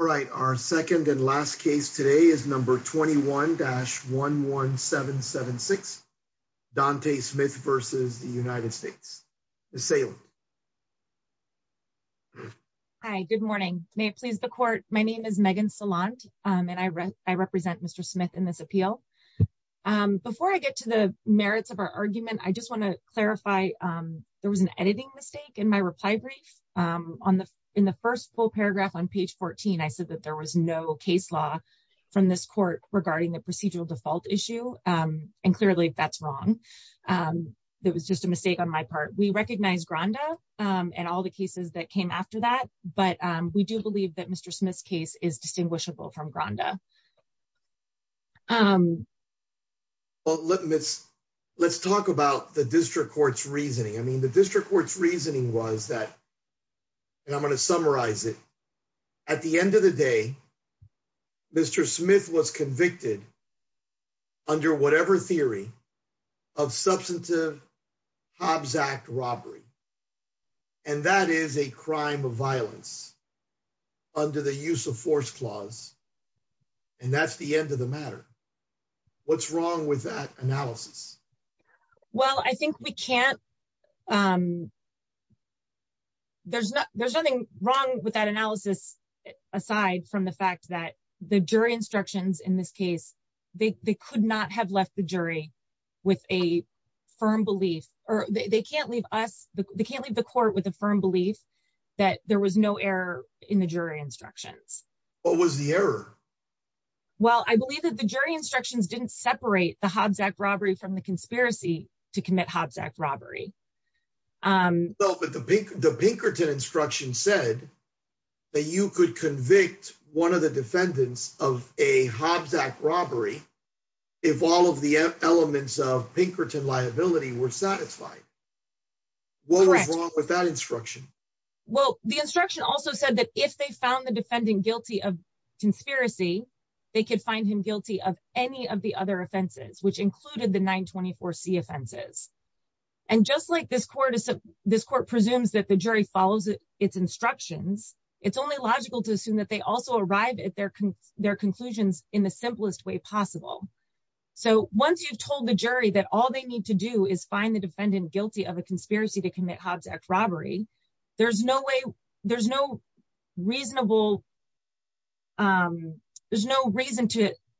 All right, our second and last case today is number 21-11776, Donte Smith v. United States. Ms. Salem. Hi, good morning. May it please the court, my name is Megan Salant, and I represent Mr. Smith in this appeal. Before I get to the merits of our argument, I just want to clarify, there was an editing mistake in my reply brief. In the first full paragraph on page 14, I said that there was no case law from this court regarding the procedural default issue, and clearly that's wrong. It was just a mistake on my part. We recognize Granda and all the cases that came after that, but we do believe that Mr. Smith's case is distinguishable from Granda. Let's talk about the district court's reasoning. I mean, the district court's reasoning was that, and I'm going to summarize it. At the end of the day, Mr. Smith was convicted under whatever theory of substantive Hobbs Act robbery. And that is a crime of violence under the use of force clause. And that's the end of the matter. What's wrong with that analysis? Well, I think we can't. There's nothing wrong with that analysis, aside from the fact that the jury instructions in this case, they could not have left the jury with a firm belief, or they can't leave us, they can't leave the court with a firm belief that there was no error in the jury instructions. What was the error? Well, I believe that the jury instructions didn't separate the Hobbs Act robbery from the conspiracy to commit Hobbs Act robbery. But the Pinkerton instruction said that you could convict one of the defendants of a Hobbs Act robbery if all of the elements of Pinkerton liability were satisfied. What was wrong with that instruction? Well, the instruction also said that if they found the defendant guilty of conspiracy, they could find him guilty of any of the other offenses, which included the 924 C offenses. And just like this court presumes that the jury follows its instructions, it's only logical to assume that they also arrive at their conclusions in the simplest way possible. So once you've told the jury that all they need to do is find the defendant guilty of a conspiracy to commit Hobbs Act robbery, there's no reason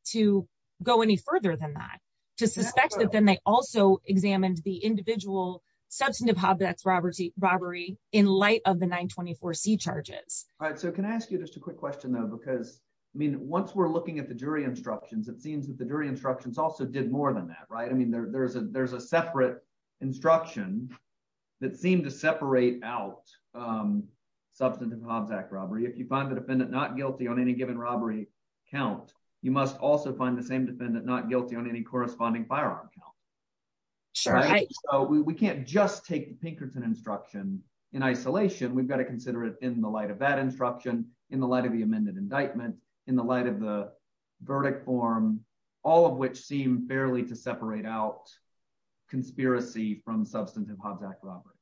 to go any further than that, to suspect that then they also examined the individual substantive Hobbs Act robbery in light of the 924 C charges. All right, so can I ask you just a quick question, though? Because, I mean, once we're looking at the jury instructions, it seems that the jury instructions also did more than that, right? I mean, there's a separate instruction that seemed to separate out substantive Hobbs Act robbery. If you find the defendant not guilty on any given robbery count, you must also find the same defendant not guilty on any corresponding firearm count. So we can't just take Pinkerton instruction in isolation. We've got to consider it in the light of that instruction, in the light of the amended indictment, in the light of the verdict form, all of which seem fairly to separate out conspiracy from substantive Hobbs Act robbery.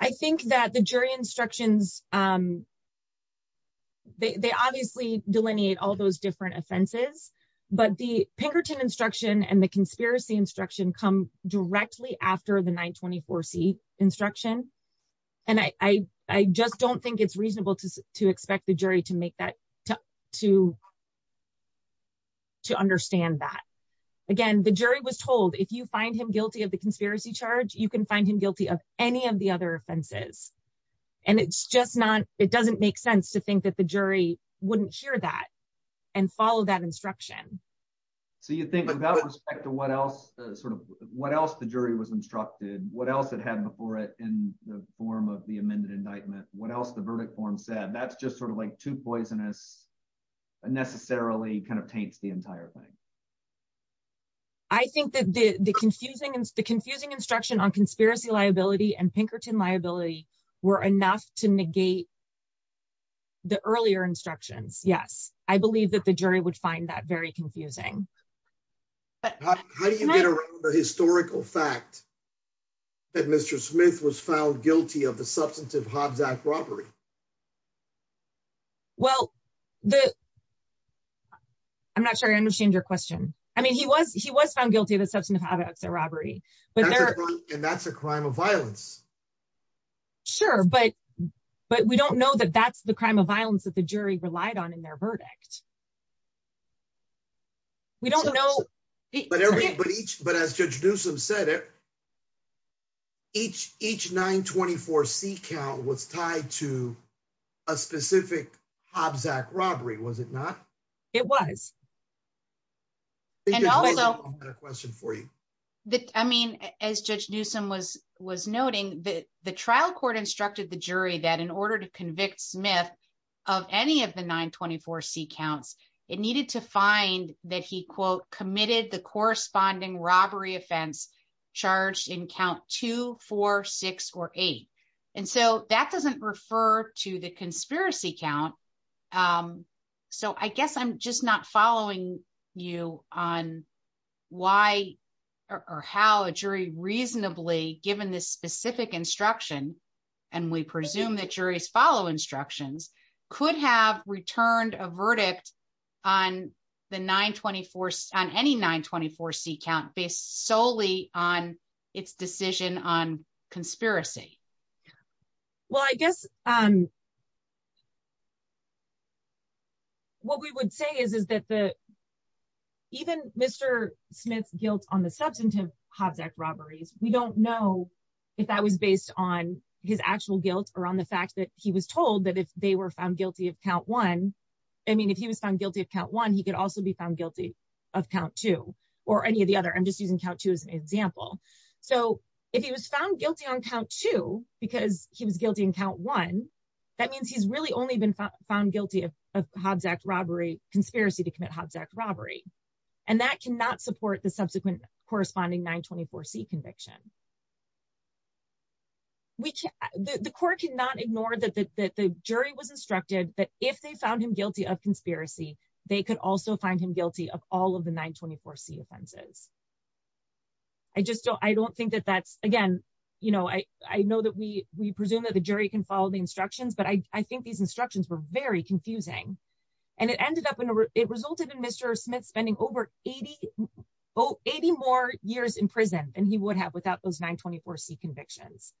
I think that the jury instructions, they obviously delineate all those different offenses, but the Pinkerton instruction and the conspiracy instruction come directly after the 924 C instruction. And I just don't think it's reasonable to expect the jury to make that, to understand that. Again, the jury was told if you find him guilty of the conspiracy charge, you can find him guilty of any of the other offenses. And it's just not, it doesn't make sense to think that the jury wouldn't hear that and follow that instruction. So you think about respect to what else sort of what else the jury was instructed, what else it had before it in the form of the amended indictment, what else the verdict form said that's just sort of like too poisonous unnecessarily kind of taints the entire thing. I think that the confusing and the confusing instruction on conspiracy liability and Pinkerton liability were enough to negate the earlier instructions. Yes, I believe that the jury would find that very confusing. But how do you get around the historical fact that Mr. Smith was found guilty of the substantive Hobbs Act robbery. Well, the. I'm not sure I understand your question. I mean he was he was found guilty of the substantive Hobbs Act robbery, but that's a crime of violence. Sure, but, but we don't know that that's the crime of violence that the jury relied on in their verdict. We don't know. But as Judge Newsome said it. Each, each 924 C count was tied to a specific Hobbs Act robbery was it not. It was. And also a question for you that I mean, as Judge Newsome was was noting that the trial court instructed the jury that in order to convict Smith of any of the 924 C counts, it needed to find that he quote committed the corresponding robbery offense charged in count 246 or eight. And so that doesn't refer to the conspiracy count. So I guess I'm just not following you on why or how a jury reasonably given this specific instruction, and we presume that juries follow instructions could have returned a verdict on the 924 on any 924 C count based solely on its decision on conspiracy. Well, I guess, um, what we would say is is that the even Mr. Smith guilt on the substantive Hobbs Act robberies, we don't know if that was based on his actual guilt or on the fact that he was told that if they were found guilty of count one. I mean if he was found guilty of count one he could also be found guilty of count two, or any of the other I'm just using count two as an example. So, if he was found guilty on count two, because he was guilty in count one. That means he's really only been found guilty of Hobbs Act robbery conspiracy to commit Hobbs Act robbery, and that cannot support the subsequent corresponding 924 C conviction. Which the court cannot ignore that the jury was instructed that if they found him guilty of conspiracy, they could also find him guilty of all of the 924 C offenses. I just don't I don't think that that's, again, you know, I, I know that we, we presume that the jury can follow the instructions but I think these instructions were very confusing, and it ended up in a, it resulted in Mr. Smith spending over 8080 more years in prison, and he would have without those 924 C convictions,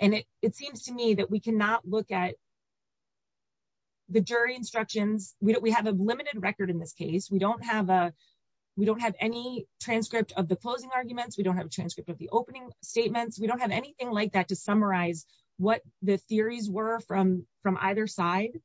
and it seems to me that we cannot look at the jury instructions, we don't we have a limited record in this case we don't have a. We don't have any transcript of the closing arguments we don't have a transcript of the opening statements we don't have anything like that to summarize what the theories were from from either side.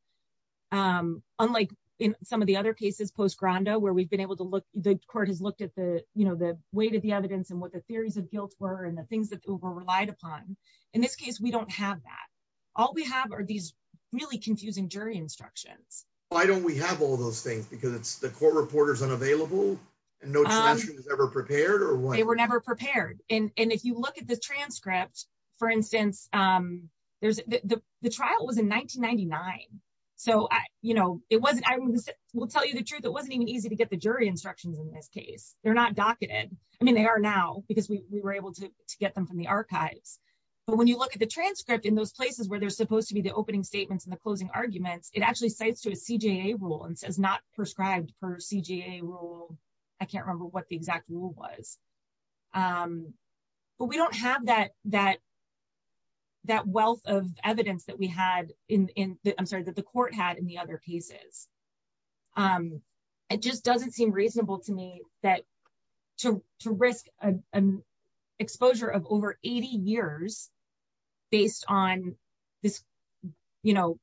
Unlike in some of the other cases post grondo where we've been able to look, the court has looked at the, you know, the weight of the evidence and what the theories of guilt were and the things that were relied upon. In this case we don't have that. All we have are these really confusing jury instructions. Why don't we have all those things because it's the court reporters unavailable, and no one's ever prepared or what they were never prepared, and if you look at the transcript. For instance, there's the trial was in 1999. So, you know, it wasn't I will tell you the truth it wasn't even easy to get the jury instructions in this case, they're not docketed. I mean they are now because we were able to get them from the archives. But when you look at the transcript in those places where they're supposed to be the opening statements and the closing arguments, it actually states to a CGA rule and says not prescribed per CGA rule. I can't remember what the exact rule was. But we don't have that that that wealth of evidence that we had in the I'm sorry that the court had in the other pieces. It just doesn't seem reasonable to me that to risk an exposure of over 80 years, based on this, you know,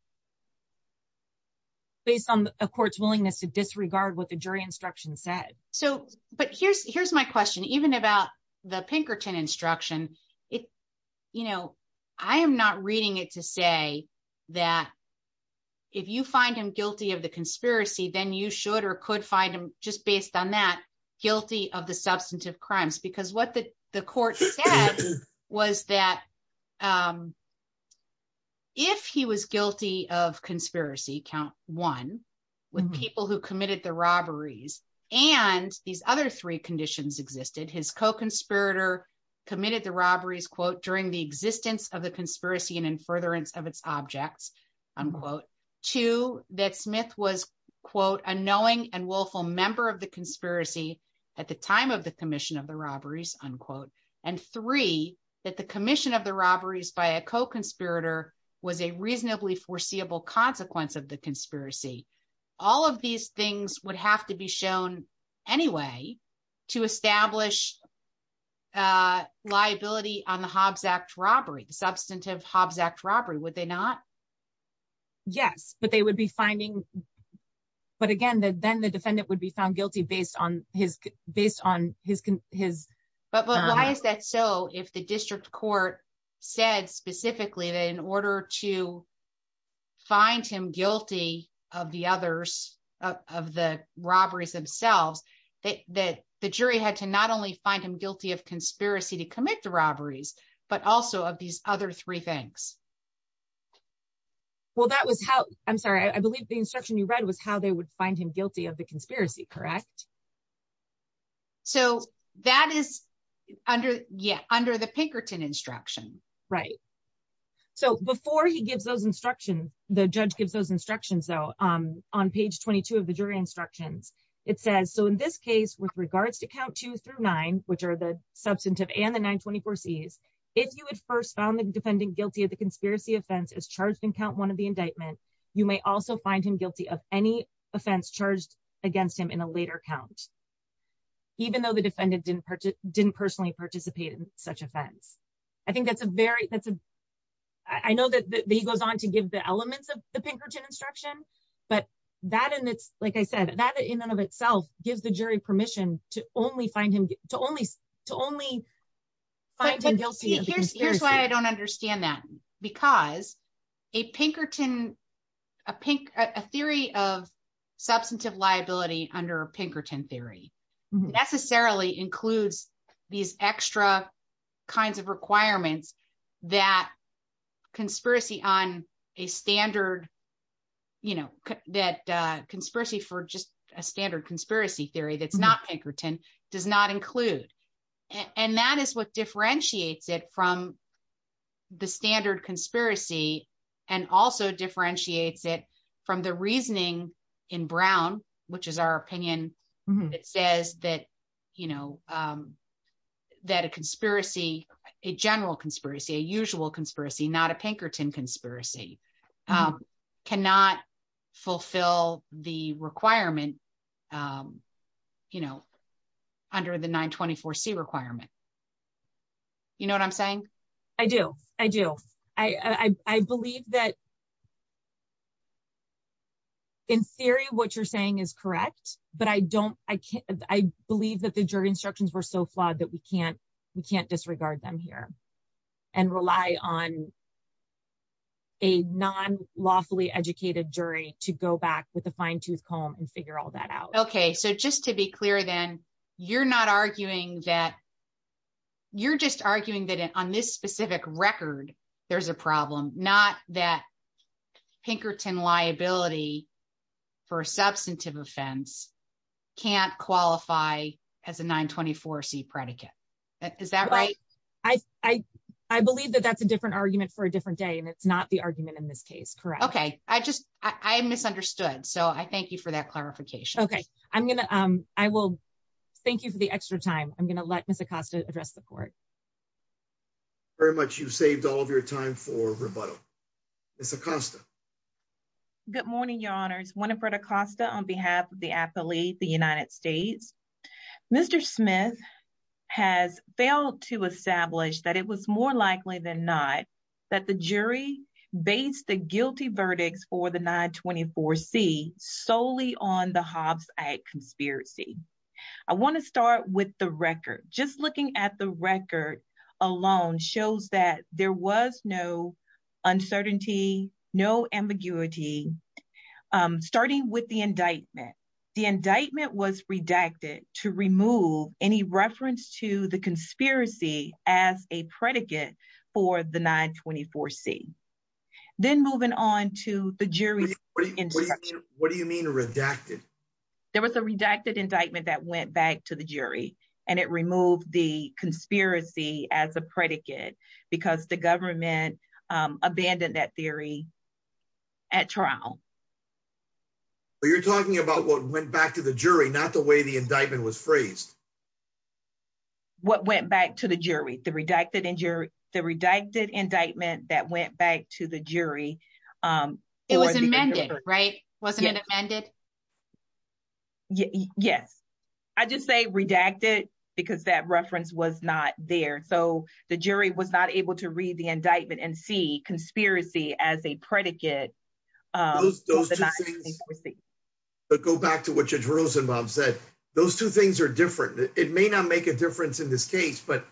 based on a court's willingness to disregard what the jury instruction said. So, but here's, here's my question even about the Pinkerton instruction it. You know, I am not reading it to say that if you find him guilty of the conspiracy, then you should or could find them just based on that guilty of the substantive crimes because what the, the court was that if he was guilty of conspiracy count one with people who committed the robberies, and these other three conditions existed his co conspirator committed the robberies quote during the existence of the conspiracy and and furtherance of its objects, unquote, to that Smith was quote unknowing and willful member of the conspiracy. At the time of the commission of the robberies, unquote, and three that the commission of the robberies by a co conspirator was a reasonably foreseeable consequence of the conspiracy. All of these things would have to be shown. Anyway, to establish liability on the Hobbes Act robbery substantive Hobbes Act robbery would they not. Yes, but they would be finding. But again that then the defendant would be found guilty based on his based on his, his, but why is that so if the district court said specifically that in order to find him guilty of the others of the robberies themselves that the jury had to not only find him guilty of conspiracy to commit the robberies, but also of these other three things. Well that was how I'm sorry I believe the instruction you read was how they would find him guilty of the conspiracy correct. So, that is under yet under the Pinkerton instruction. Right. So before he gives those instruction, the judge gives those instructions out on page 22 of the jury instructions. It says so in this case with regards to count two through nine, which are the substantive and the 924 sees. If you would first found the defendant guilty of the conspiracy offense is charged in count one of the indictment. You may also find him guilty of any offense charged against him in a later count. Even though the defendant didn't purchase didn't personally participate in such offense. I think that's a very that's a. I know that he goes on to give the elements of the Pinkerton instruction, but that and it's like I said that in and of itself gives the jury permission to only find him to only to only find him guilty. Here's why I don't understand that, because a Pinkerton, a pink, a theory of substantive liability under Pinkerton theory necessarily includes these extra kinds of requirements that conspiracy on a standard, you know, that conspiracy for just a standard from the standard conspiracy, and also differentiates it from the reasoning in Brown, which is our opinion. It says that, you know, that a conspiracy, a general conspiracy a usual conspiracy not a Pinkerton conspiracy cannot fulfill the requirement. You know, under the 924 see requirement. You know what I'm saying. I do, I do. I believe that in theory what you're saying is correct, but I don't, I can't, I believe that the jury instructions were so flawed that we can't, we can't disregard them here and rely on a non lawfully educated jury to go back with a fine tooth comb and figure all that out. Okay, so just to be clear, then you're not arguing that you're just arguing that on this specific record. There's a problem, not that Pinkerton liability for substantive offense can't qualify as a 924 see predicate. Is that right, I, I, I believe that that's a different argument for a different day and it's not the argument in this case, correct. Okay, I just, I misunderstood so I thank you for that clarification. Okay, I'm going to, I will thank you for the extra time, I'm going to let Miss Acosta address the court. Very much you saved all of your time for rebuttal. It's a constant. Good morning, your honor's Winifred Acosta on behalf of the athlete, the United States. Mr. Smith has failed to establish that it was more likely than not that the jury based the guilty verdicts for the 924 see solely on the Hobbs conspiracy. I want to start with the record, just looking at the record alone shows that there was no uncertainty, no ambiguity. Starting with the indictment. The indictment was redacted to remove any reference to the conspiracy as a predicate for the 924 see. Then moving on to the jury. What do you mean redacted. There was a redacted indictment that went back to the jury, and it removed the conspiracy as a predicate, because the government abandoned that theory at trial. You're talking about what went back to the jury not the way the indictment was phrased. What went back to the jury, the redacted injury, the redacted indictment that went back to the jury. It was amended right wasn't it amended. Yes, I just say redacted, because that reference was not there so the jury was not able to read the indictment and see conspiracy as a predicate. Those two things, but go back to what Judge Rosenbaum said, those two things are different, it may not make a difference in this case but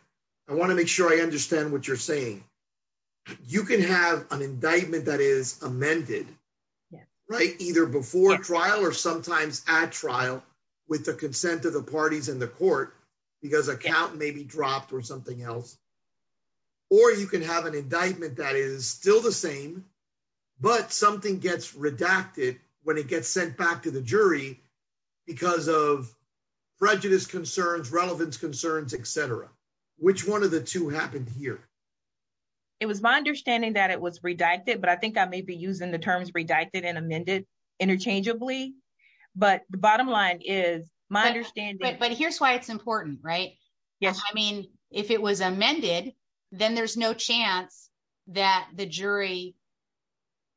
I want to make sure I understand what you're saying. You can have an indictment that is amended. Right, either before trial or sometimes at trial, with the consent of the parties in the court, because account may be dropped or something else. Or you can have an indictment that is still the same, but something gets redacted, when it gets sent back to the jury, because of prejudice concerns relevance concerns etc. Which one of the two happened here. It was my understanding that it was redacted but I think I may be using the terms redacted and amended interchangeably, but the bottom line is my understanding, but here's why it's important right. Yes, I mean, if it was amended, then there's no chance that the jury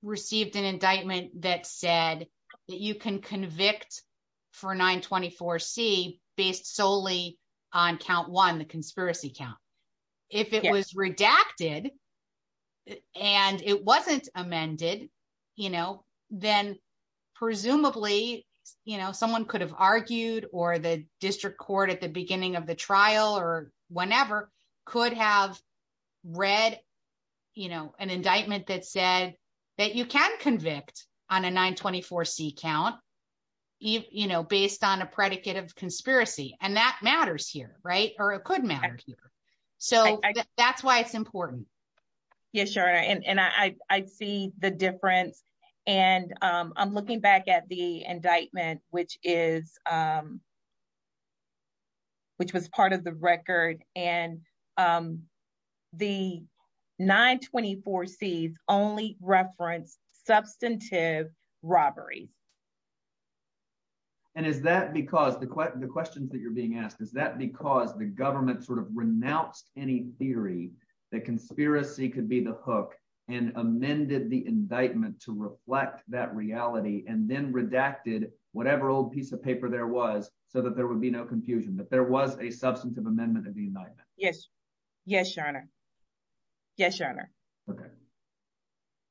received an indictment that said that you can convict for 924 see based solely on count one the conspiracy count. If it was redacted, and it wasn't amended, you know, then presumably, you know, someone could have argued or the district court at the beginning of the trial or whenever could have read, you know, an indictment that said that you can convict on a 924 see count, you know, based on a predicate of conspiracy, and that matters here, right, or it could matter. So, that's why it's important. Yes, sure. And I see the difference. And I'm looking back at the indictment, which is, which was part of the record, and the 924 sees only reference substantive robberies. And is that because the question the questions that you're being asked is that because the government sort of renounced any theory that conspiracy could be the hook and amended the indictment to reflect that reality and then redacted, whatever old piece of paper there was so that there would be no confusion that there was a substantive amendment of the night. Yes. Yes, Your Honor.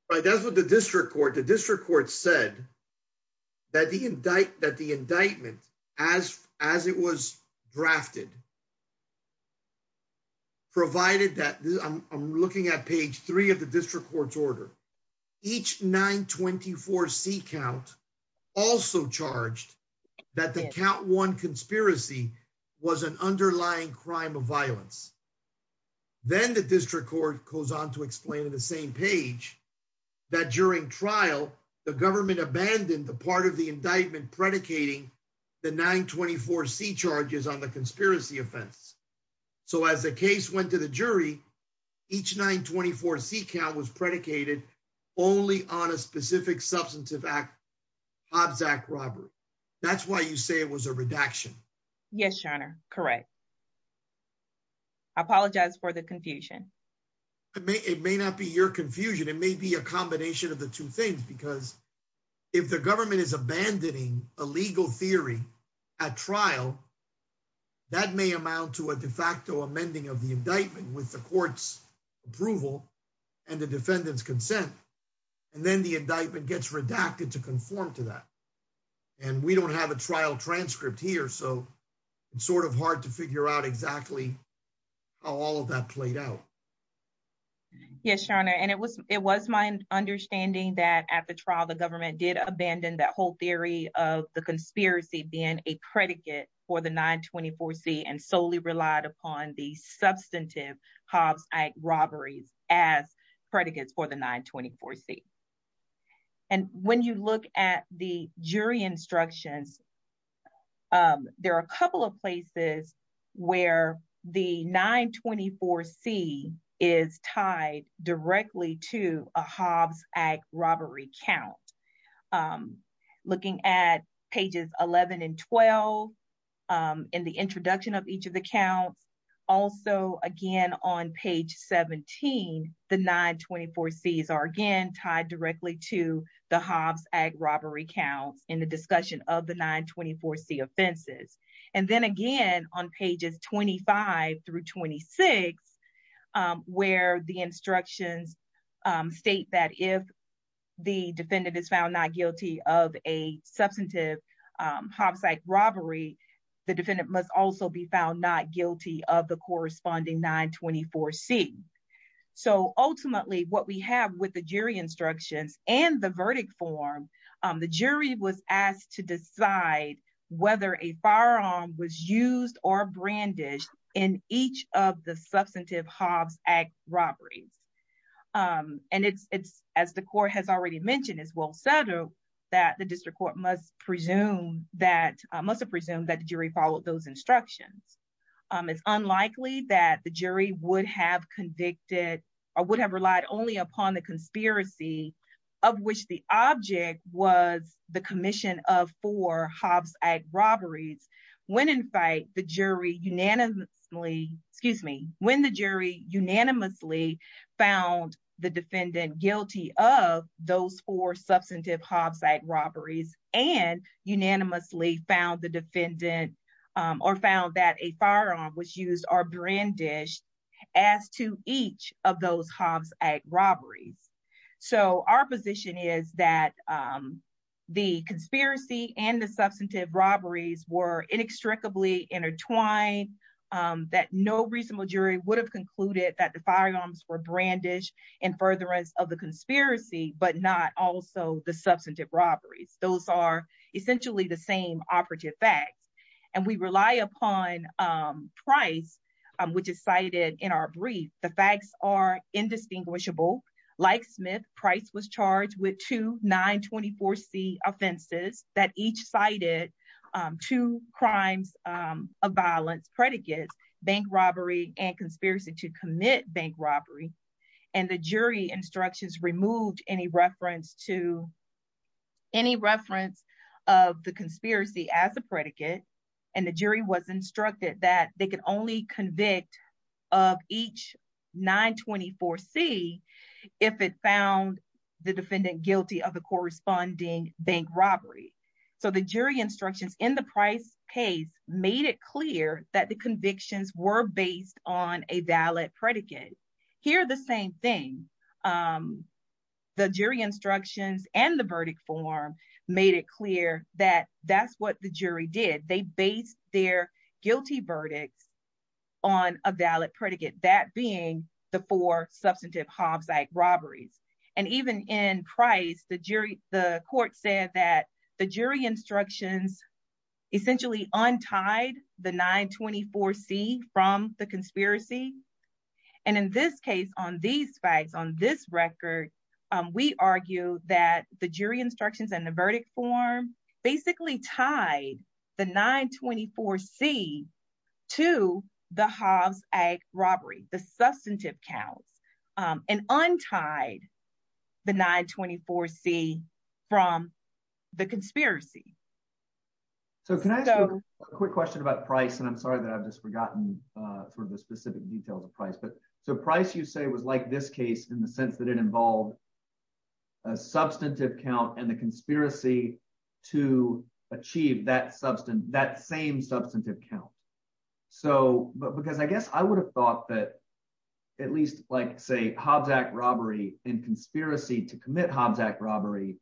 But that's what the district court the district court said that the indictment that the indictment, as, as it was drafted, provided that I'm looking at page three of the district court's order. Each 924 see count also charged that the count one conspiracy was an underlying crime of violence. Then the district court goes on to explain to the same page that during trial, the government abandoned the part of the indictment predicating the 924 see charges on the conspiracy offense. So as the case went to the jury. Each 924 see count was predicated only on a specific substantive act. That's why you say it was a redaction. Yes, Your Honor. Correct. I apologize for the confusion. It may it may not be your confusion, it may be a combination of the two things because if the government is abandoning a legal theory at trial. That may amount to a de facto amending of the indictment with the court's approval and the defendant's consent, and then the indictment gets redacted to conform to that. And we don't have a trial transcript here so it's sort of hard to figure out exactly how all of that played out. Yes, Your Honor, and it was, it was my understanding that at the trial the government did abandon that whole theory of the conspiracy being a predicate for the 924 see and solely relied upon the substantive Hobbs robberies as predicates for the 924 see. And when you look at the jury instructions. There are a couple of places where the 924 see is tied directly to a Hobbs act robbery count. Looking at pages 11 and 12. In the introduction of each of the counts. Also, again, on page 17, the 924 sees are again tied directly to the Hobbs act robbery counts in the discussion of the 924 see offenses. And then again on pages 25 through 26, where the instructions state that if the defendant is found not guilty of a substantive Hobbs like robbery. The defendant must also be found not guilty of the corresponding 924 see. So ultimately what we have with the jury instructions and the verdict form. The jury was asked to decide whether a firearm was used or brandish in each of the substantive Hobbs act robberies. And it's, it's, as the court has already mentioned as well so that the district court must presume that must presume that the jury followed those instructions. It's unlikely that the jury would have convicted or would have relied only upon the conspiracy of which the object was the commission of for Hobbs act robberies. When in fact the jury unanimously, excuse me, when the jury unanimously found the defendant guilty of those for substantive Hobbs like robberies and unanimously found the defendant or found that a firearm was used or brandish as to each of those Hobbs act robberies. So our position is that the conspiracy and the substantive robberies were inextricably intertwined that no reasonable jury would have concluded that the firearms for brandish and furtherance of the conspiracy, but not also the substantive robberies. Those are essentially the same operative facts, and we rely upon price, which is cited in our brief, the facts are indistinguishable, like Smith price was charged with to 924 C offenses that each cited to crimes of violence predicates bank robbery and conspiracy to commit bank robbery. And the jury instructions removed any reference to any reference of the conspiracy as a predicate, and the jury was instructed that they can only convict of each 924 see if it found the defendant guilty of the corresponding bank robbery. So the jury instructions in the price case made it clear that the convictions were based on a valid predicate here the same thing. The jury instructions and the verdict form made it clear that that's what the jury did they based their guilty verdicts on a valid predicate that being the for substantive Hobbs like robberies and even in price the jury, the court said that the jury instructions. Essentially untied the 924 see from the conspiracy, and in this case on these facts on this record, we argue that the jury instructions and the verdict form basically tied the 924 see to the Hobbs a robbery, the substantive cows and untied the 924 see from the conspiracy. So can I have a quick question about price and I'm sorry that I've just forgotten for the specific details of price but so price you say was like this case in the sense that it involved a substantive count and the conspiracy to achieve that substance that same substantive count. So, but because I guess I would have thought that at least like say Hobbs act robbery and conspiracy to commit Hobbs act robbery.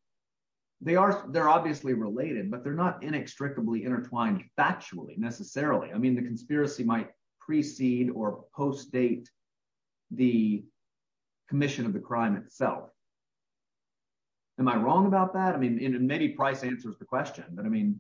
They are, they're obviously related but they're not inextricably intertwined factually necessarily I mean the conspiracy might precede or post date, the commission of the crime itself. Am I wrong about that I mean in many price answers the question but I mean,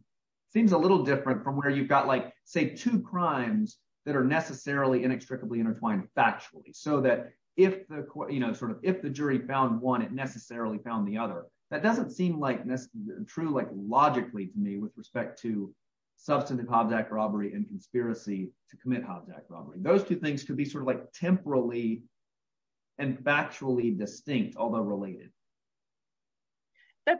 seems a little different from where you've got like say two crimes that are necessarily inextricably intertwined factually so that if the court, you know, sort of, if the jury found one it necessarily found the other. That doesn't seem like this true like logically to me with respect to substantive Hobbs act robbery and conspiracy to commit Hobbs act robbery those two things to be sort of like temporarily and factually distinct although related.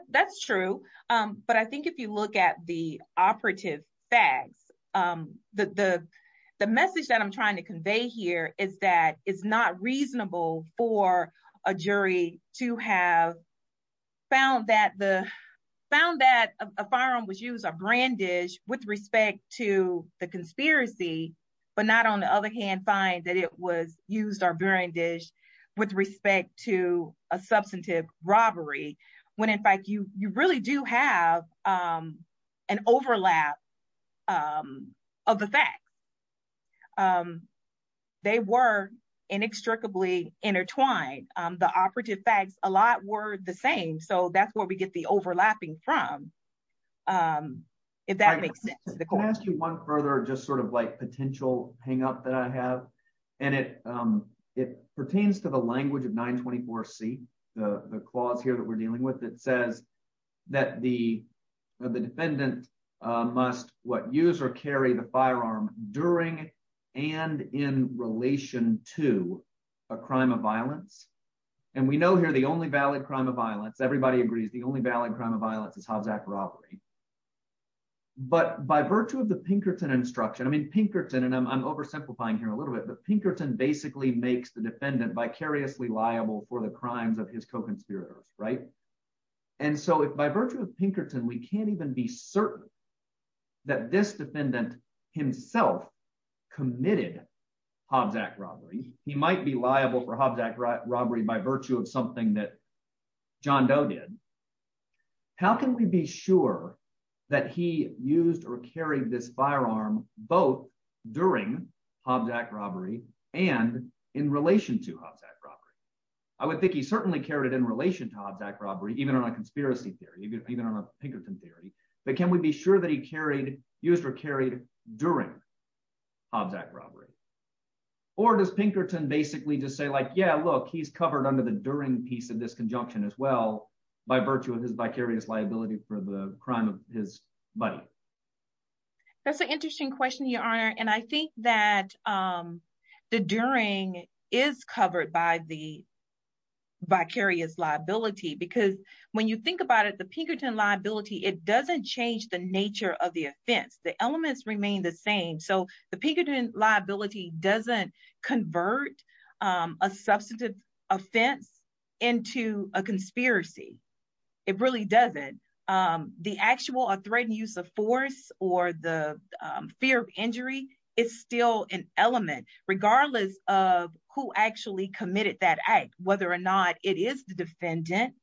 That's true. But I think if you look at the operative facts, the, the message that I'm trying to convey here is that it's not reasonable for a jury to have found that the found that a firearm was used a brandish with respect to the conspiracy, but not on the other hand find that it was used our brandish with respect to a substantive robbery, when in fact you, you really do have an overlap of the fact they were inextricably intertwined the operative facts, a lot were the same so that's where we get the overlapping from. If that makes sense. Can I ask you one further just sort of like potential hang up that I have, and it, it pertains to the language of 924 see the clause here that we're dealing with it says that the, the defendant must what user carry the firearm during and in relation to a crime of But by virtue of the Pinkerton instruction I mean Pinkerton and I'm oversimplifying here a little bit but Pinkerton basically makes the defendant vicariously liable for the crimes of his co conspirators, right. And so if by virtue of Pinkerton we can't even be certain that this defendant himself committed Hobbs act robbery, he might be liable for Hobbs act robbery by virtue of something that john doe did. How can we be sure that he used or carry this firearm, both during Hobbs act robbery, and in relation to Hobbs act robbery. I would think he certainly carried in relation to Hobbs act robbery even on a conspiracy theory, even on a Pinkerton theory, but can we be sure that he carried used or carried during Hobbs act robbery, or does Pinkerton basically just say like yeah look he's covered under the during piece of this conjunction as well by virtue of his vicarious liability for the crime of his buddy. That's an interesting question your honor and I think that the during is covered by the vicarious liability because when you think about it the Pinkerton liability it doesn't change the nature of the offense the elements remain the same so the Pinkerton liability doesn't convert a substantive offense into a conspiracy. It really doesn't. The actual a threatened use of force or the fear of injury is still an element, regardless of who actually committed that act, whether or not it is the defendant,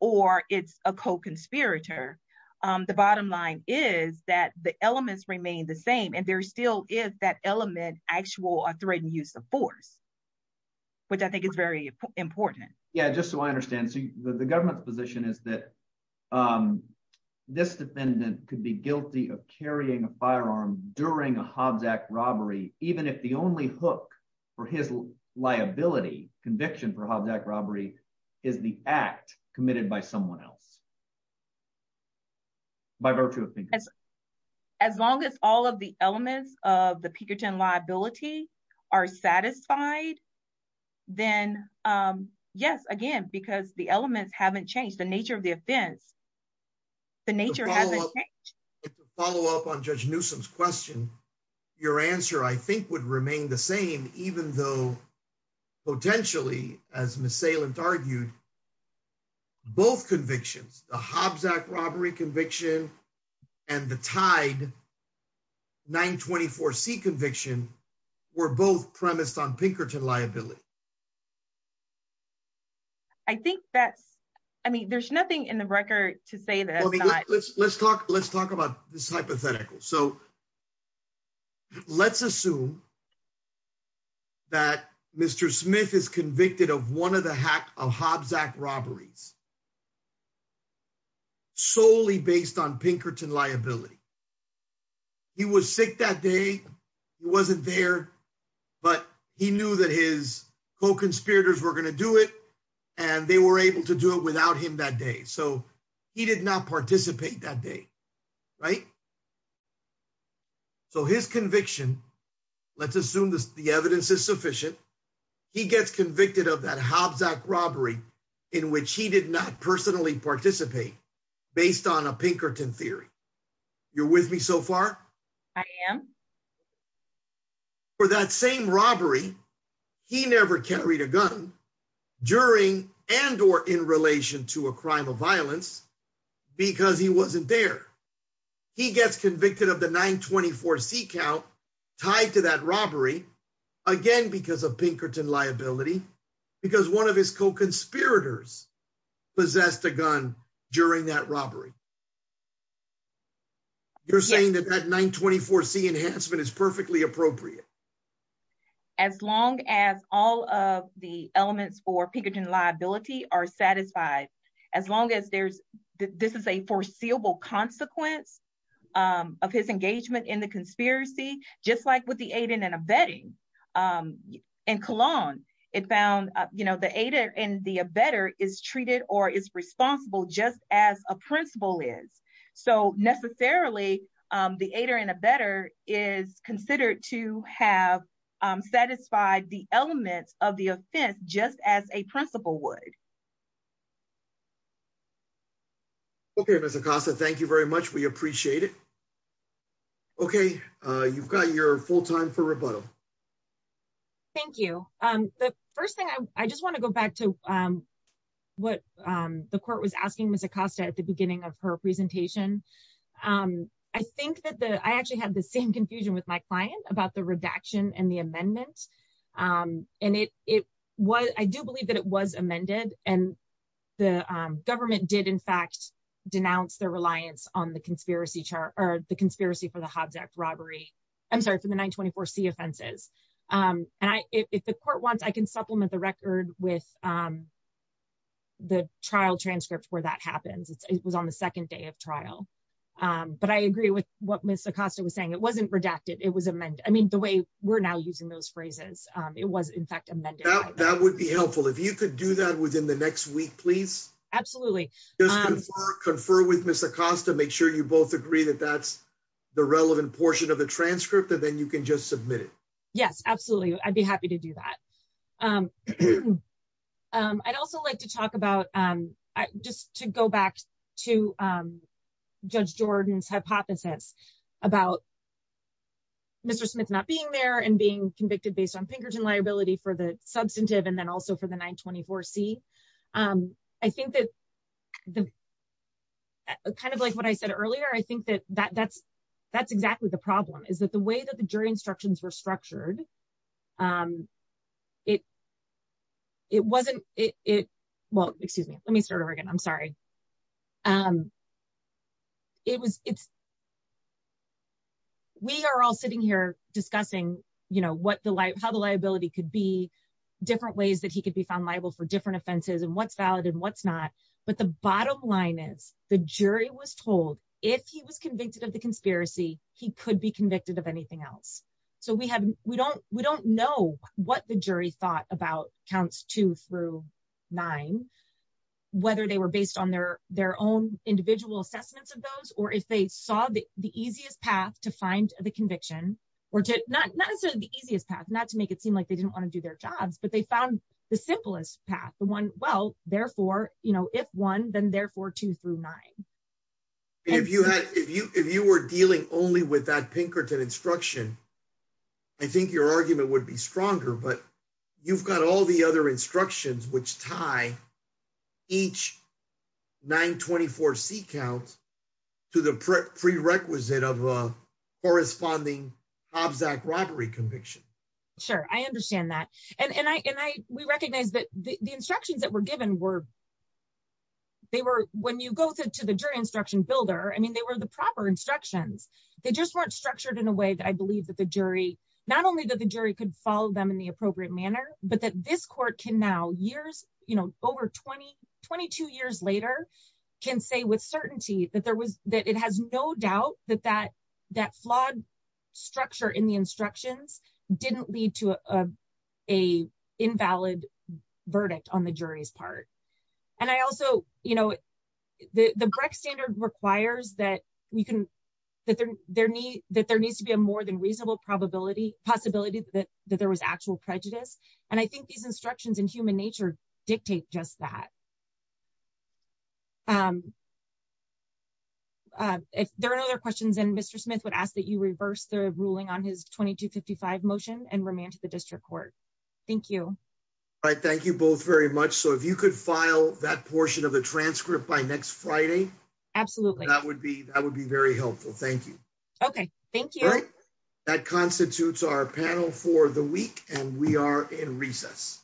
or it's a co conspirator. The bottom line is that the elements remain the same and there still is that element, actual or threatened use of force, which I think is very important. Yeah, just so I understand so the government's position is that this defendant could be guilty of carrying a firearm during a Hobbs act robbery, even if the only hook for his liability conviction for Hobbs act robbery is the act committed by someone else. By virtue of as long as all of the elements of the Pinkerton liability are satisfied. Then, yes, again because the elements haven't changed the nature of the offense. The nature. Follow up on Judge Newsom's question. Your answer I think would remain the same, even though potentially as Miss Salem argued both convictions, the Hobbs act robbery conviction, and the tide 924 c conviction were both premised on Pinkerton liability. I think that's, I mean there's nothing in the record to say that. Let's talk, let's talk about this hypothetical so let's assume that Mr. Smith is convicted of one of the hack of Hobbs act robberies, solely based on Pinkerton liability. He was sick that day. He wasn't there. But he knew that his co conspirators were going to do it. And they were able to do it without him that day so he did not participate that day. Right. So his conviction. Let's assume this, the evidence is sufficient. He gets convicted of that Hobbs act robbery, in which he did not personally participate, based on a Pinkerton theory. You're with me so far. I am. For that same robbery. He never carried a gun during and or in relation to a crime of violence, because he wasn't there. He gets convicted of the 924 c count tied to that robbery. Again, because of Pinkerton liability, because one of his co conspirators possessed a gun during that robbery. You're saying that that 924 c enhancement is perfectly appropriate. As long as all of the elements for Pinkerton liability are satisfied. As long as there's, this is a foreseeable consequence of his engagement in the conspiracy, just like with the aid in and abetting. In Cologne, it found, you know, the ADA and the better is treated or is responsible just as a principle is so necessarily the ADA and a better is considered to have satisfied the elements of the offense, just as a principle would. Okay, Miss Acosta, thank you very much. We appreciate it. Okay, you've got your full time for rebuttal. Thank you. Um, the first thing I just want to go back to what the court was asking Miss Acosta at the beginning of her presentation. I think that the I actually had the same confusion with my client about the redaction and the amendment. And it was I do believe that it was amended, and the government did in fact denounce their reliance on the conspiracy chart or the conspiracy for the Hobbs Act robbery. I'm sorry for the 924 c offenses. And I, if the court wants I can supplement the record with the trial transcript where that happens. It was on the second day of trial. But I agree with what Miss Acosta was saying it wasn't redacted it was amended I mean the way we're now using those phrases. It was in fact amended. That would be helpful if you could do that within the next week please. Absolutely. Confer with Miss Acosta make sure you both agree that that's the relevant portion of the transcript and then you can just submit it. Yes, absolutely. I'd be happy to do that. I'd also like to talk about, just to go back to Judge Jordan's hypothesis about Mr. Smith not being there and being convicted based on Pinkerton liability for the substantive and then also for the 924 c. I think that the kind of like what I said earlier, I think that that that's, that's exactly the problem is that the way that the jury instructions were structured. It. It wasn't it. Well, excuse me, let me start over again. I'm sorry. It was, it's. We are all sitting here, discussing, you know what the light how the liability could be different ways that he could be found liable for different offenses and what's valid and what's not. But the bottom line is the jury was told, if he was convicted of the conspiracy, he could be convicted of anything else. So we haven't, we don't, we don't know what the jury thought about counts two through nine, whether they were based on their, their own individual assessments of those, or if they saw the easiest path to find the conviction, or to not necessarily the easiest path not to make it seem like they didn't want to do their jobs, but they found the simplest path the one well, therefore, you know, if one then therefore two through nine. If you had if you if you were dealing only with that Pinkerton instruction. I think your argument would be stronger but you've got all the other instructions which tie each 924 seek out to the prerequisite of a corresponding object robbery conviction. Sure, I understand that. And I and I, we recognize that the instructions that were given were. They were, when you go to the jury instruction builder I mean they were the proper instructions. They just weren't structured in a way that I believe that the jury, not only that the jury could follow them in the appropriate manner, but that this court can now years, you know, over 2022 years later, can say with certainty that there was that it has no doubt that that that flawed structure in the instructions didn't lead to a invalid verdict on the jury's part. And I also, you know, the Breck standard requires that we can that there, there need that there needs to be a more than reasonable probability possibility that that there was actual prejudice. And I think these instructions in human nature dictate just that. If there are other questions and Mr Smith would ask that you reverse the ruling on his 2255 motion and remain to the district court. Thank you. All right, thank you both very much. So if you could file that portion of the transcript by next Friday. Absolutely, that would be that would be very helpful. Thank you. Okay, thank you. That constitutes our panel for the week, and we are in recess.